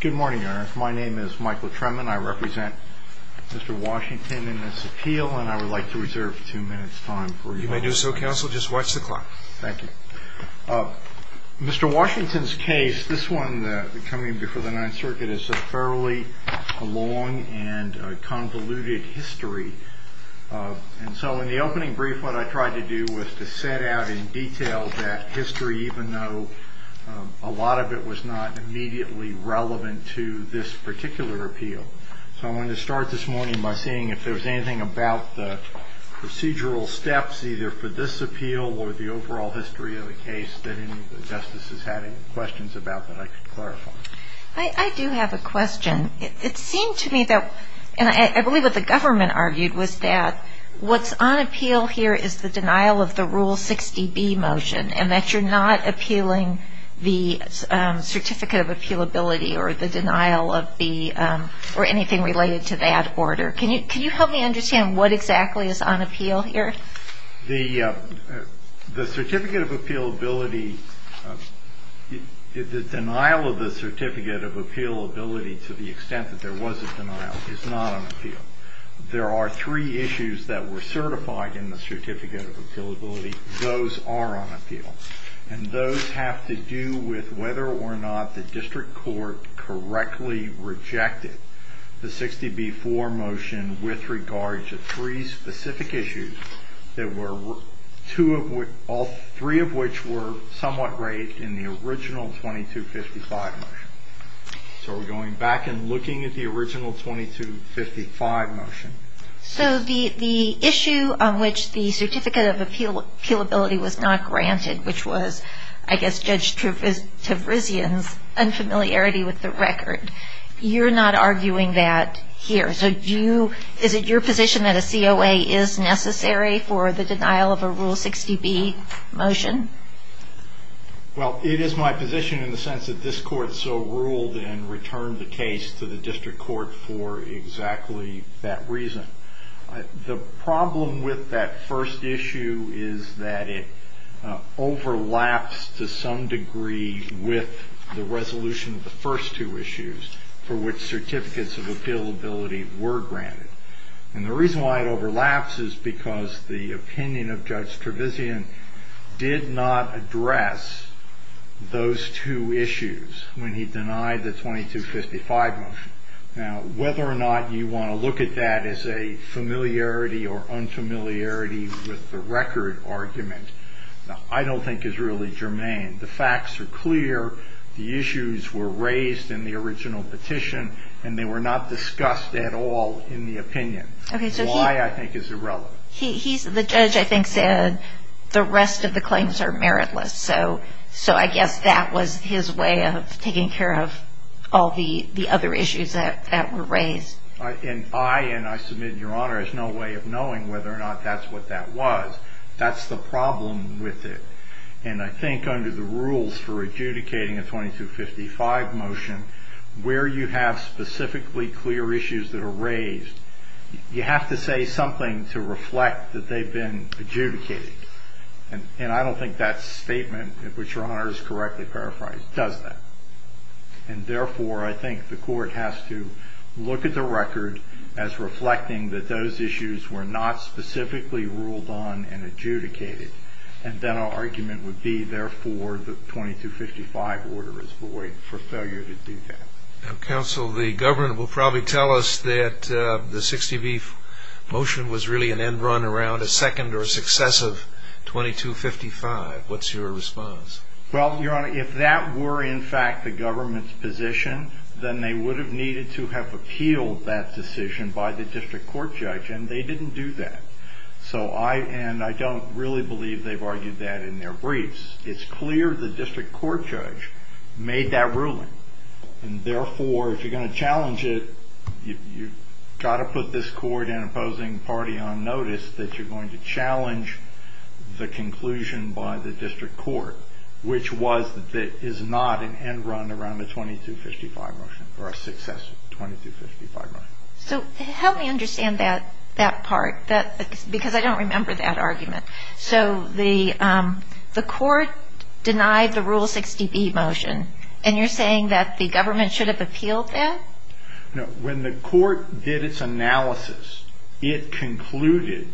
Good morning, Your Honor. My name is Michael Tremann. I represent Mr. Washington in this appeal, and I would like to reserve two minutes' time for you. You may do so, counsel. Just watch the clock. Thank you. Mr. Washington's case, this one coming before the Ninth Circuit, is a fairly long and convoluted history. And so in the opening brief, what I tried to do was to set out in detail that history, even though a lot of it was not immediately relevant to this particular appeal. So I wanted to start this morning by seeing if there was anything about the procedural steps, either for this appeal or the overall history of the case, that any of the Justices had any questions about that I could clarify. I do have a question. It seemed to me that, and I believe what the government argued, was that what's on appeal here is the denial of the Rule 60B motion, and that you're not appealing the Certificate of Appealability or anything related to that order. Can you help me understand what exactly is on appeal here? The Certificate of Appealability, the denial of the Certificate of Appealability, to the extent that there was a denial, is not on appeal. There are three issues that were certified in the Certificate of Appealability. Those are on appeal. And those have to do with whether or not the district court correctly rejected the 60B-4 motion with regard to three specific issues, all three of which were somewhat right in the original 2255 motion. So we're going back and looking at the original 2255 motion. So the issue on which the Certificate of Appealability was not granted, which was, I guess, Judge Tavrizian's unfamiliarity with the record, you're not arguing that here. So is it your position that a COA is necessary for the denial of a Rule 60B motion? Well, it is my position in the sense that this Court so ruled and returned the case to the district court for exactly that reason. The problem with that first issue is that it overlaps to some degree with the resolution of the first two issues for which Certificates of Appealability were granted. And the reason why it overlaps is because the opinion of Judge Tavrizian did not address those two issues when he denied the 2255 motion. Now, whether or not you want to look at that as a familiarity or unfamiliarity with the record argument, I don't think is really germane. The facts are clear. The issues were raised in the original petition, and they were not discussed at all in the opinion. Why, I think, is irrelevant. The judge, I think, said the rest of the claims are meritless. So I guess that was his way of taking care of all the other issues that were raised. And I, and I submit, Your Honor, have no way of knowing whether or not that's what that was. That's the problem with it. And I think under the rules for adjudicating a 2255 motion, where you have specifically clear issues that are raised, you have to say something to reflect that they've been adjudicated. And I don't think that statement, which Your Honor has correctly paraphrased, does that. And therefore, I think the court has to look at the record as reflecting that those issues were not specifically ruled on and adjudicated. And then our argument would be, therefore, the 2255 order is void for failure to do that. Now, counsel, the government will probably tell us that the 60B motion was really an end run around a second or a success of 2255. What's your response? Well, Your Honor, if that were, in fact, the government's position, then they would have needed to have appealed that decision by the district court judge, and they didn't do that. And I don't really believe they've argued that in their briefs. It's clear the district court judge made that ruling. And therefore, if you're going to challenge it, you've got to put this court and opposing party on notice that you're going to challenge the conclusion by the district court, which was that it is not an end run around a 2255 motion or a success of 2255 motion. So help me understand that part, because I don't remember that argument. So the court denied the Rule 60B motion, and you're saying that the government should have appealed that? When the court did its analysis, it concluded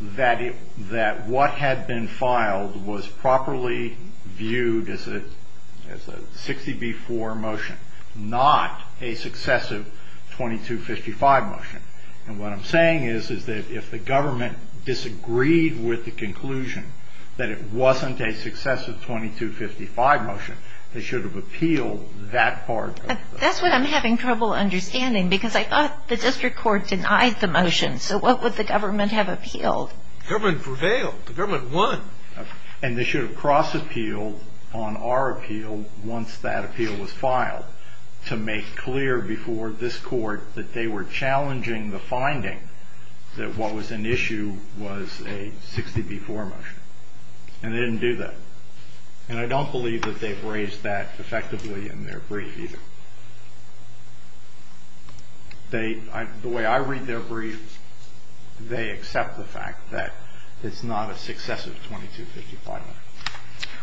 that what had been filed was properly viewed as a 60B4 motion, not a successive 2255 motion. And what I'm saying is that if the government disagreed with the conclusion that it wasn't a successive 2255 motion, they should have appealed that part. That's what I'm having trouble understanding, because I thought the district court denied the motion. So what would the government have appealed? The government prevailed. The government won. And they should have cross-appealed on our appeal once that appeal was filed to make clear before this court that they were challenging the finding that what was an issue was a 60B4 motion, and they didn't do that. And I don't believe that they've raised that effectively in their brief either. The way I read their brief, they accept the fact that it's not a successive 2255 motion.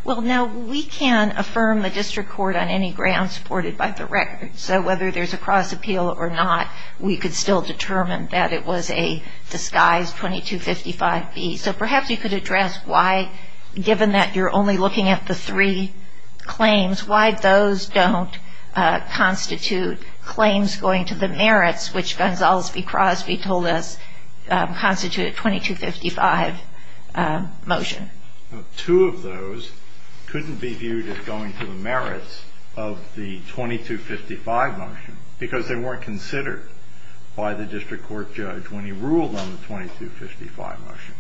Well, now, we can affirm the district court on any grounds supported by the record. So whether there's a cross-appeal or not, we could still determine that it was a disguised 2255B. So perhaps you could address why, given that you're only looking at the three claims, why those don't constitute claims going to the merits, which Gonzales v. Crosby told us constitute a 2255 motion. Two of those couldn't be viewed as going to the merits of the 2255 motion, because they weren't considered by the district court judge when he ruled on the 2255 motion.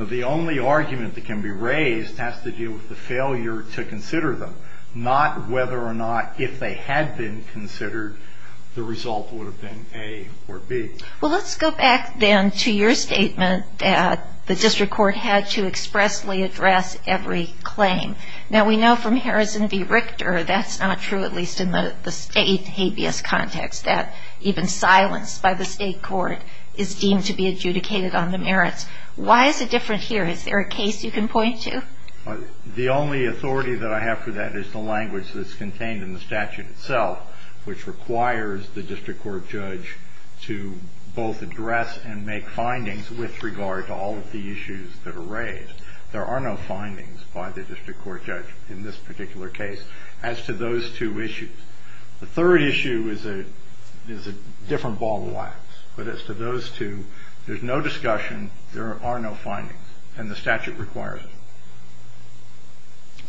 The only argument that can be raised has to do with the failure to consider them, not whether or not if they had been considered, the result would have been A or B. Well, let's go back then to your statement that the district court had to expressly address every claim. Now, we know from Harrison v. Richter that's not true, at least in the state habeas context, that even silence by the state court is deemed to be adjudicated on the merits. Why is it different here? Is there a case you can point to? The only authority that I have for that is the language that's contained in the statute itself, which requires the district court judge to both address and make findings with regard to all of the issues that are raised. There are no findings by the district court judge in this particular case as to those two issues. The third issue is a different ball of wax, but as to those two, there's no discussion, there are no findings, and the statute requires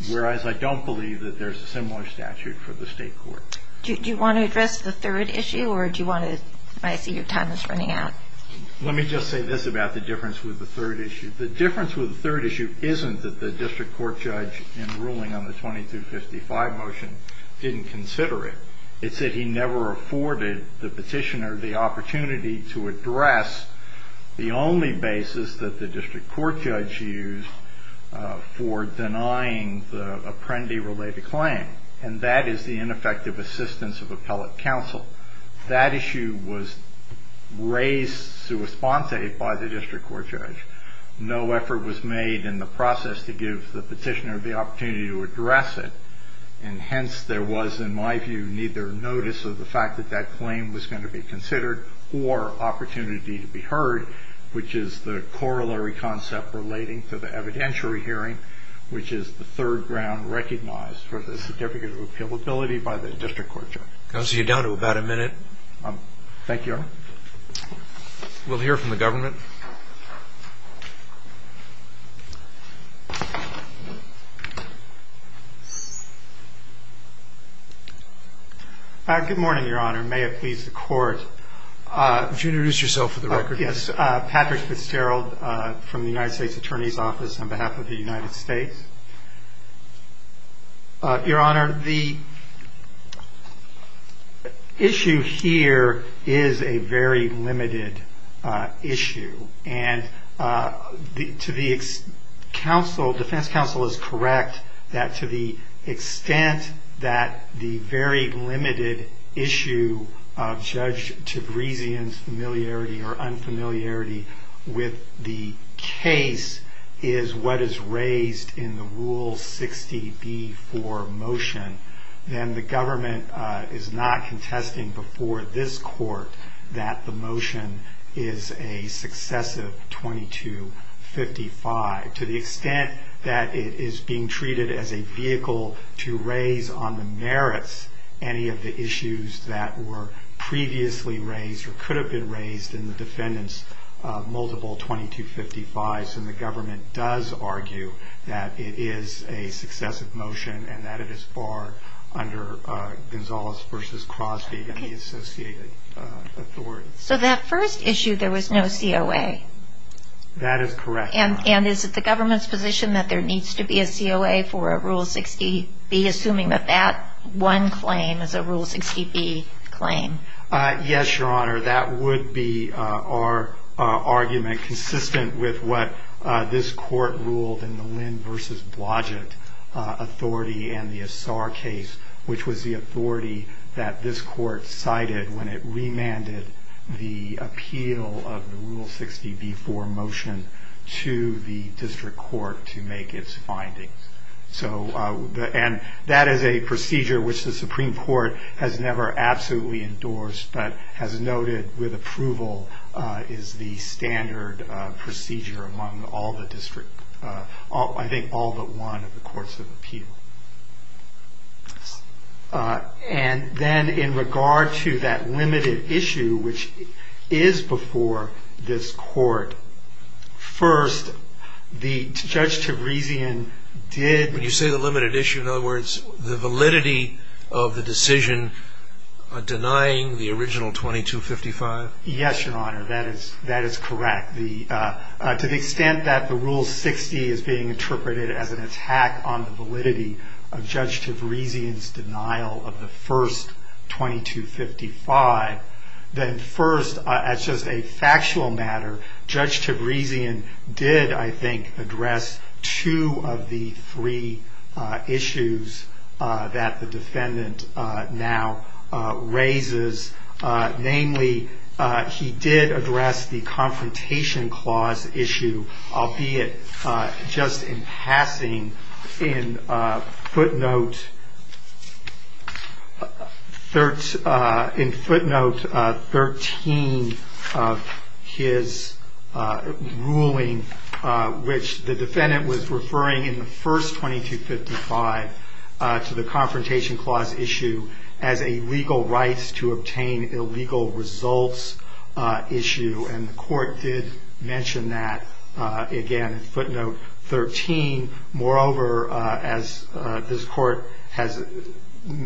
them, whereas I don't believe that there's a similar statute for the state court. Do you want to address the third issue, or do you want to? I see your time is running out. Let me just say this about the difference with the third issue. The difference with the third issue isn't that the district court judge in ruling on the 2255 motion didn't consider it. It's that he never afforded the petitioner the opportunity to address the only basis that the district court judge used for denying the apprendee-related claim, and that is the ineffective assistance of appellate counsel. That issue was raised sui sponte by the district court judge. No effort was made in the process to give the petitioner the opportunity to address it, and hence there was, in my view, neither notice of the fact that that claim was going to be considered or opportunity to be heard, which is the corollary concept relating to the evidentiary hearing, which is the third ground recognized for the certificate of appealability by the district court judge. I'll see you down to about a minute. Thank you, Your Honor. We'll hear from the government. Good morning, Your Honor. May it please the Court. Would you introduce yourself for the record? Yes. Patrick Fitzgerald from the United States Attorney's Office on behalf of the United States. Your Honor, the issue here is a very limited issue, and to the counsel, defense counsel is correct that to the extent that the very limited issue of Judge Tabrezian's familiarity or unfamiliarity with the case is what is raised in the Rule 60b-4 motion, then the government is not contesting before this court that the motion is a successive 2255. To the extent that it is being treated as a vehicle to raise on the merits any of the issues that were previously raised or could have been raised in the defendant's multiple 2255s, then the government does argue that it is a successive motion and that it is far under Gonzales v. Crosby and the associated authorities. So that first issue, there was no COA. That is correct, Your Honor. And is it the government's position that there needs to be a COA for a Rule 60b, assuming that that one claim is a Rule 60b claim? Yes, Your Honor. That would be our argument consistent with what this Court ruled in the Lynn v. Blodgett authority and the Assar case, which was the authority that this Court cited when it remanded the appeal of the Rule 60b-4 motion to the district court to make its findings. And that is a procedure which the Supreme Court has never absolutely endorsed, but has noted with approval is the standard procedure among, I think, all but one of the courts of appeal. And then in regard to that limited issue, which is before this Court, first, the Judge Teresian did... When you say the limited issue, in other words, the validity of the decision denying the original 2255? Yes, Your Honor. That is correct. To the extent that the Rule 60 is being interpreted as an attack on the validity of Judge Teresian's denial of the first 2255, then first, as just a factual matter, Judge Teresian did, I think, address two of the three issues that the defendant now raises. Namely, he did address the Confrontation Clause issue, albeit just in passing in footnote 13 of his ruling, which the defendant was referring in the first 2255 to the Confrontation Clause issue as a legal rights-to-obtain-illegal-results issue. And the Court did mention that again in footnote 13. Moreover, as this Court has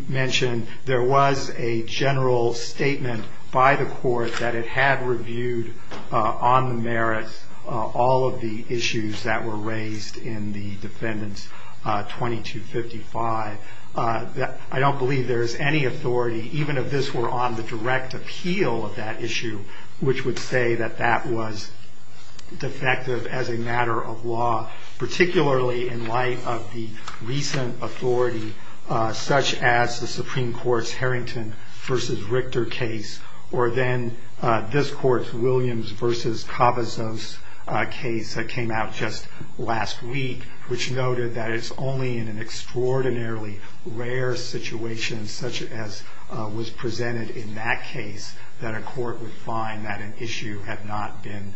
mentioned, there was a general statement by the Court that it had reviewed on the merits all of the issues that were raised in the defendant's 2255. I don't believe there is any authority, even if this were on the direct appeal of that issue, which would say that that was defective as a matter of law, particularly in light of the recent authority, such as the Supreme Court's Harrington v. Richter case, or then this Court's Williams v. Cavazos case that came out just last week, which noted that it's only in an extraordinarily rare situation, such as was presented in that case, that a court would find that an issue had not been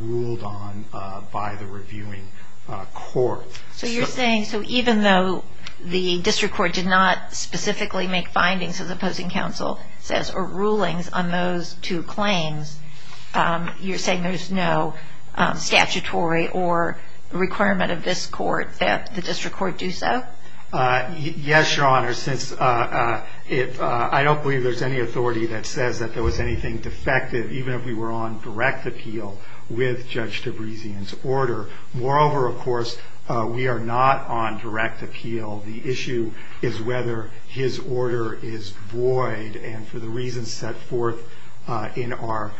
ruled on by the reviewing court. So you're saying, so even though the District Court did not specifically make findings, as the opposing counsel says, or rulings on those two claims, you're saying there's no statutory or requirement of this Court that the District Court do so? Yes, Your Honor, since I don't believe there's any authority that says that there was anything defective, even if we were on direct appeal with Judge Tabrisian's order. Moreover, of course, we are not on direct appeal. The issue is whether his order is void, and for the reasons set forth in our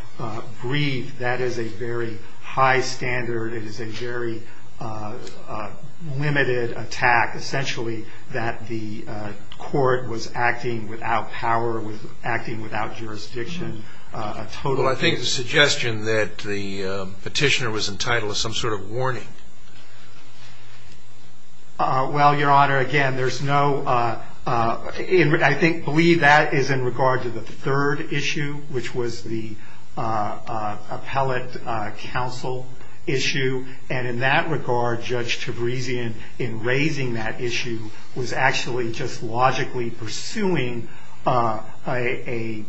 brief, that is a very high standard. It is a very limited attack, essentially, that the court was acting without power, was acting without jurisdiction. Well, I think the suggestion that the petitioner was entitled to some sort of warning. Well, Your Honor, again, I believe that is in regard to the third issue, which was the appellate counsel issue, and in that regard, Judge Tabrisian, in raising that issue, was actually just logically pursuing an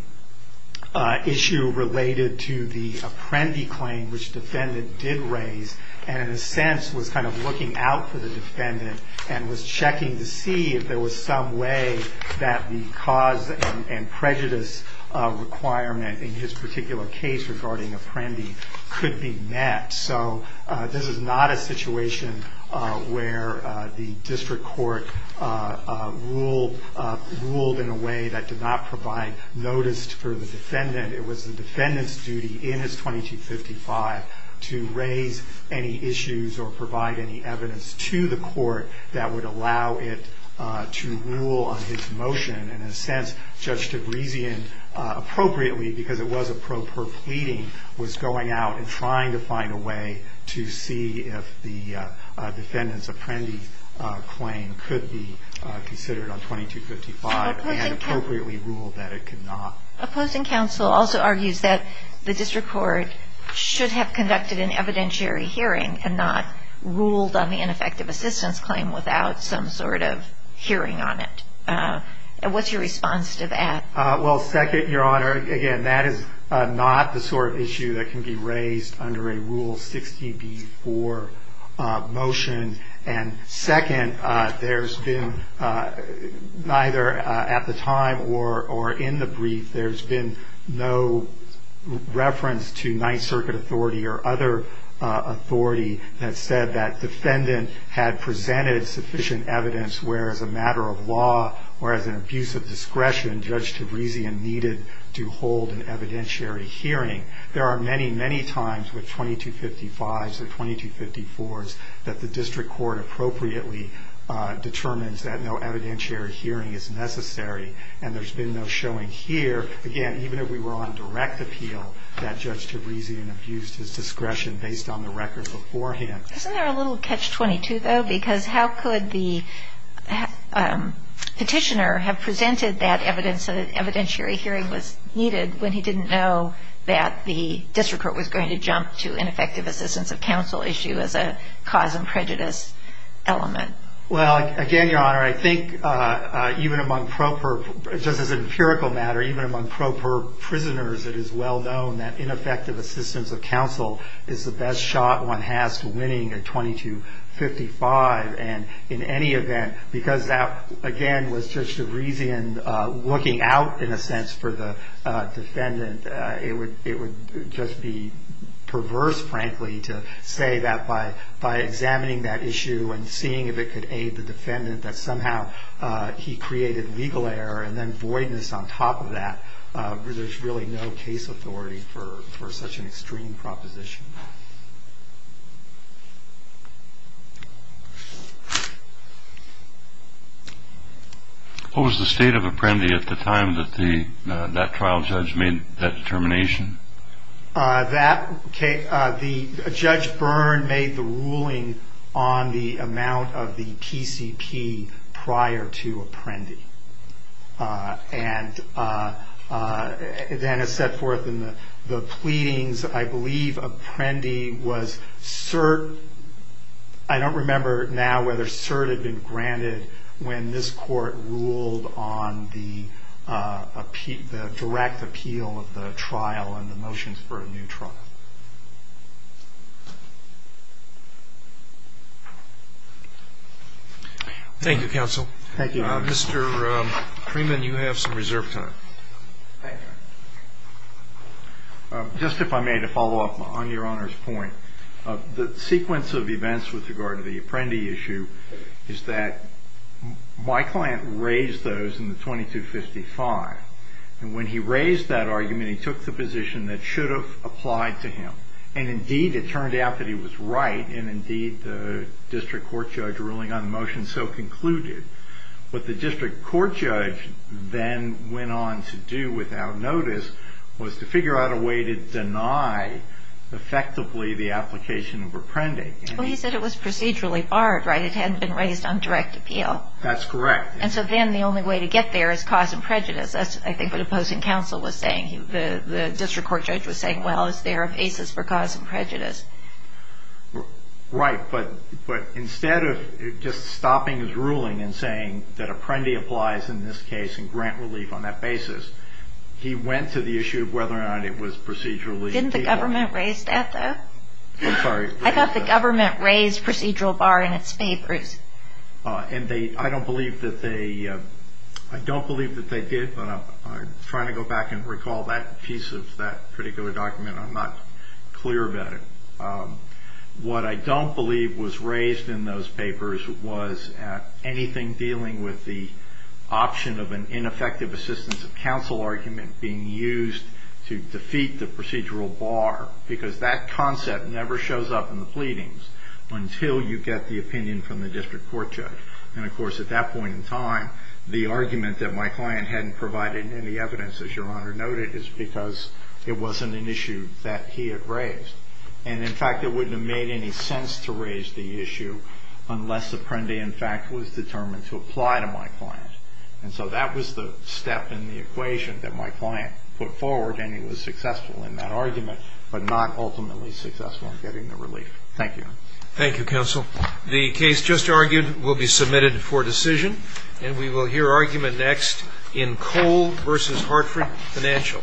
issue related to the apprendee claim, which the defendant did raise, and in a sense was kind of looking out for the defendant, and was checking to see if there was some way that the cause and prejudice requirement in his particular case regarding apprendee could be met. So this is not a situation where the district court ruled in a way that did not provide notice for the defendant. It was the defendant's duty in his 2255 to raise any issues or provide any evidence to the court that would allow it to rule on his motion. And in a sense, Judge Tabrisian, appropriately, because it was a pro per pleading, was going out and trying to find a way to see if the defendant's apprendee claim could be considered on 2255, and appropriately ruled that it could not. Opposing counsel also argues that the district court should have conducted an evidentiary hearing and not ruled on the ineffective assistance claim without some sort of hearing on it. What's your response to that? Well, second, Your Honor, again, that is not the sort of issue that can be raised under a Rule 60b-4 motion. And second, there's been neither at the time or in the brief, there's been no reference to Ninth Circuit authority or other authority that said that defendant had presented sufficient evidence, where as a matter of law or as an abuse of discretion, Judge Tabrisian needed to hold an evidentiary hearing. There are many, many times with 2255s and 2254s that the district court appropriately determines that no evidentiary hearing is necessary, and there's been no showing here. Again, even if we were on direct appeal, that Judge Tabrisian abused his discretion based on the records beforehand. Isn't there a little catch-22, though? Because how could the petitioner have presented that evidence that an evidentiary hearing was needed when he didn't know that the district court was going to jump to ineffective assistance of counsel issue as a cause and prejudice element? Well, again, Your Honor, I think even among proper, just as an empirical matter, even among proper prisoners, it is well known that ineffective assistance of counsel is the best shot one has to winning a 2255. And in any event, because that, again, was Judge Tabrisian looking out, in a sense, for the defendant, it would just be perverse, frankly, to say that by examining that issue and seeing if it could aid the defendant, that somehow he created legal error and then voidness on top of that. There's really no case authority for such an extreme proposition. What was the state of Apprendi at the time that that trial judge made that determination? That case, Judge Byrne made the ruling on the amount of the PCP prior to Apprendi. And then it's set forth in the pleadings, I believe Apprendi was cert. I don't remember now whether cert had been granted when this court ruled on the direct appeal of the trial and the motions for a new trial. Thank you, Counsel. Thank you, Your Honor. Mr. Freeman, you have some reserve time. Thank you. Just if I may, to follow up on Your Honor's point. The sequence of events with regard to the Apprendi issue is that my client raised those in the 2255. And when he raised that argument, he took the position that should have applied to him. And, indeed, it turned out that he was right. And, indeed, the district court judge ruling on the motion so concluded. What the district court judge then went on to do without notice was to figure out a way to deny, effectively, the application of Apprendi. Well, he said it was procedurally barred, right? It hadn't been raised on direct appeal. That's correct. And so then the only way to get there is cause and prejudice. That's, I think, what opposing counsel was saying. The district court judge was saying, well, is there a basis for cause and prejudice? Right. But instead of just stopping his ruling and saying that Apprendi applies in this case and grant relief on that basis, he went to the issue of whether or not it was procedurally barred. Didn't the government raise that, though? I'm sorry. I thought the government raised procedural bar in its papers. And I don't believe that they did. I'm trying to go back and recall that piece of that particular document. I'm not clear about it. What I don't believe was raised in those papers was anything dealing with the option of an ineffective assistance of counsel argument being used to defeat the procedural bar. Because that concept never shows up in the pleadings until you get the opinion from the district court judge. And, of course, at that point in time, the argument that my client hadn't provided any evidence, as Your Honor noted, is because it wasn't an issue that he had raised. And, in fact, it wouldn't have made any sense to raise the issue unless Apprendi, in fact, was determined to apply to my client. And so that was the step in the equation that my client put forward, and he was successful in that argument, but not ultimately successful in getting the relief. Thank you. Thank you, counsel. The case just argued will be submitted for decision, and we will hear argument next in Cole v. Hartford Financial.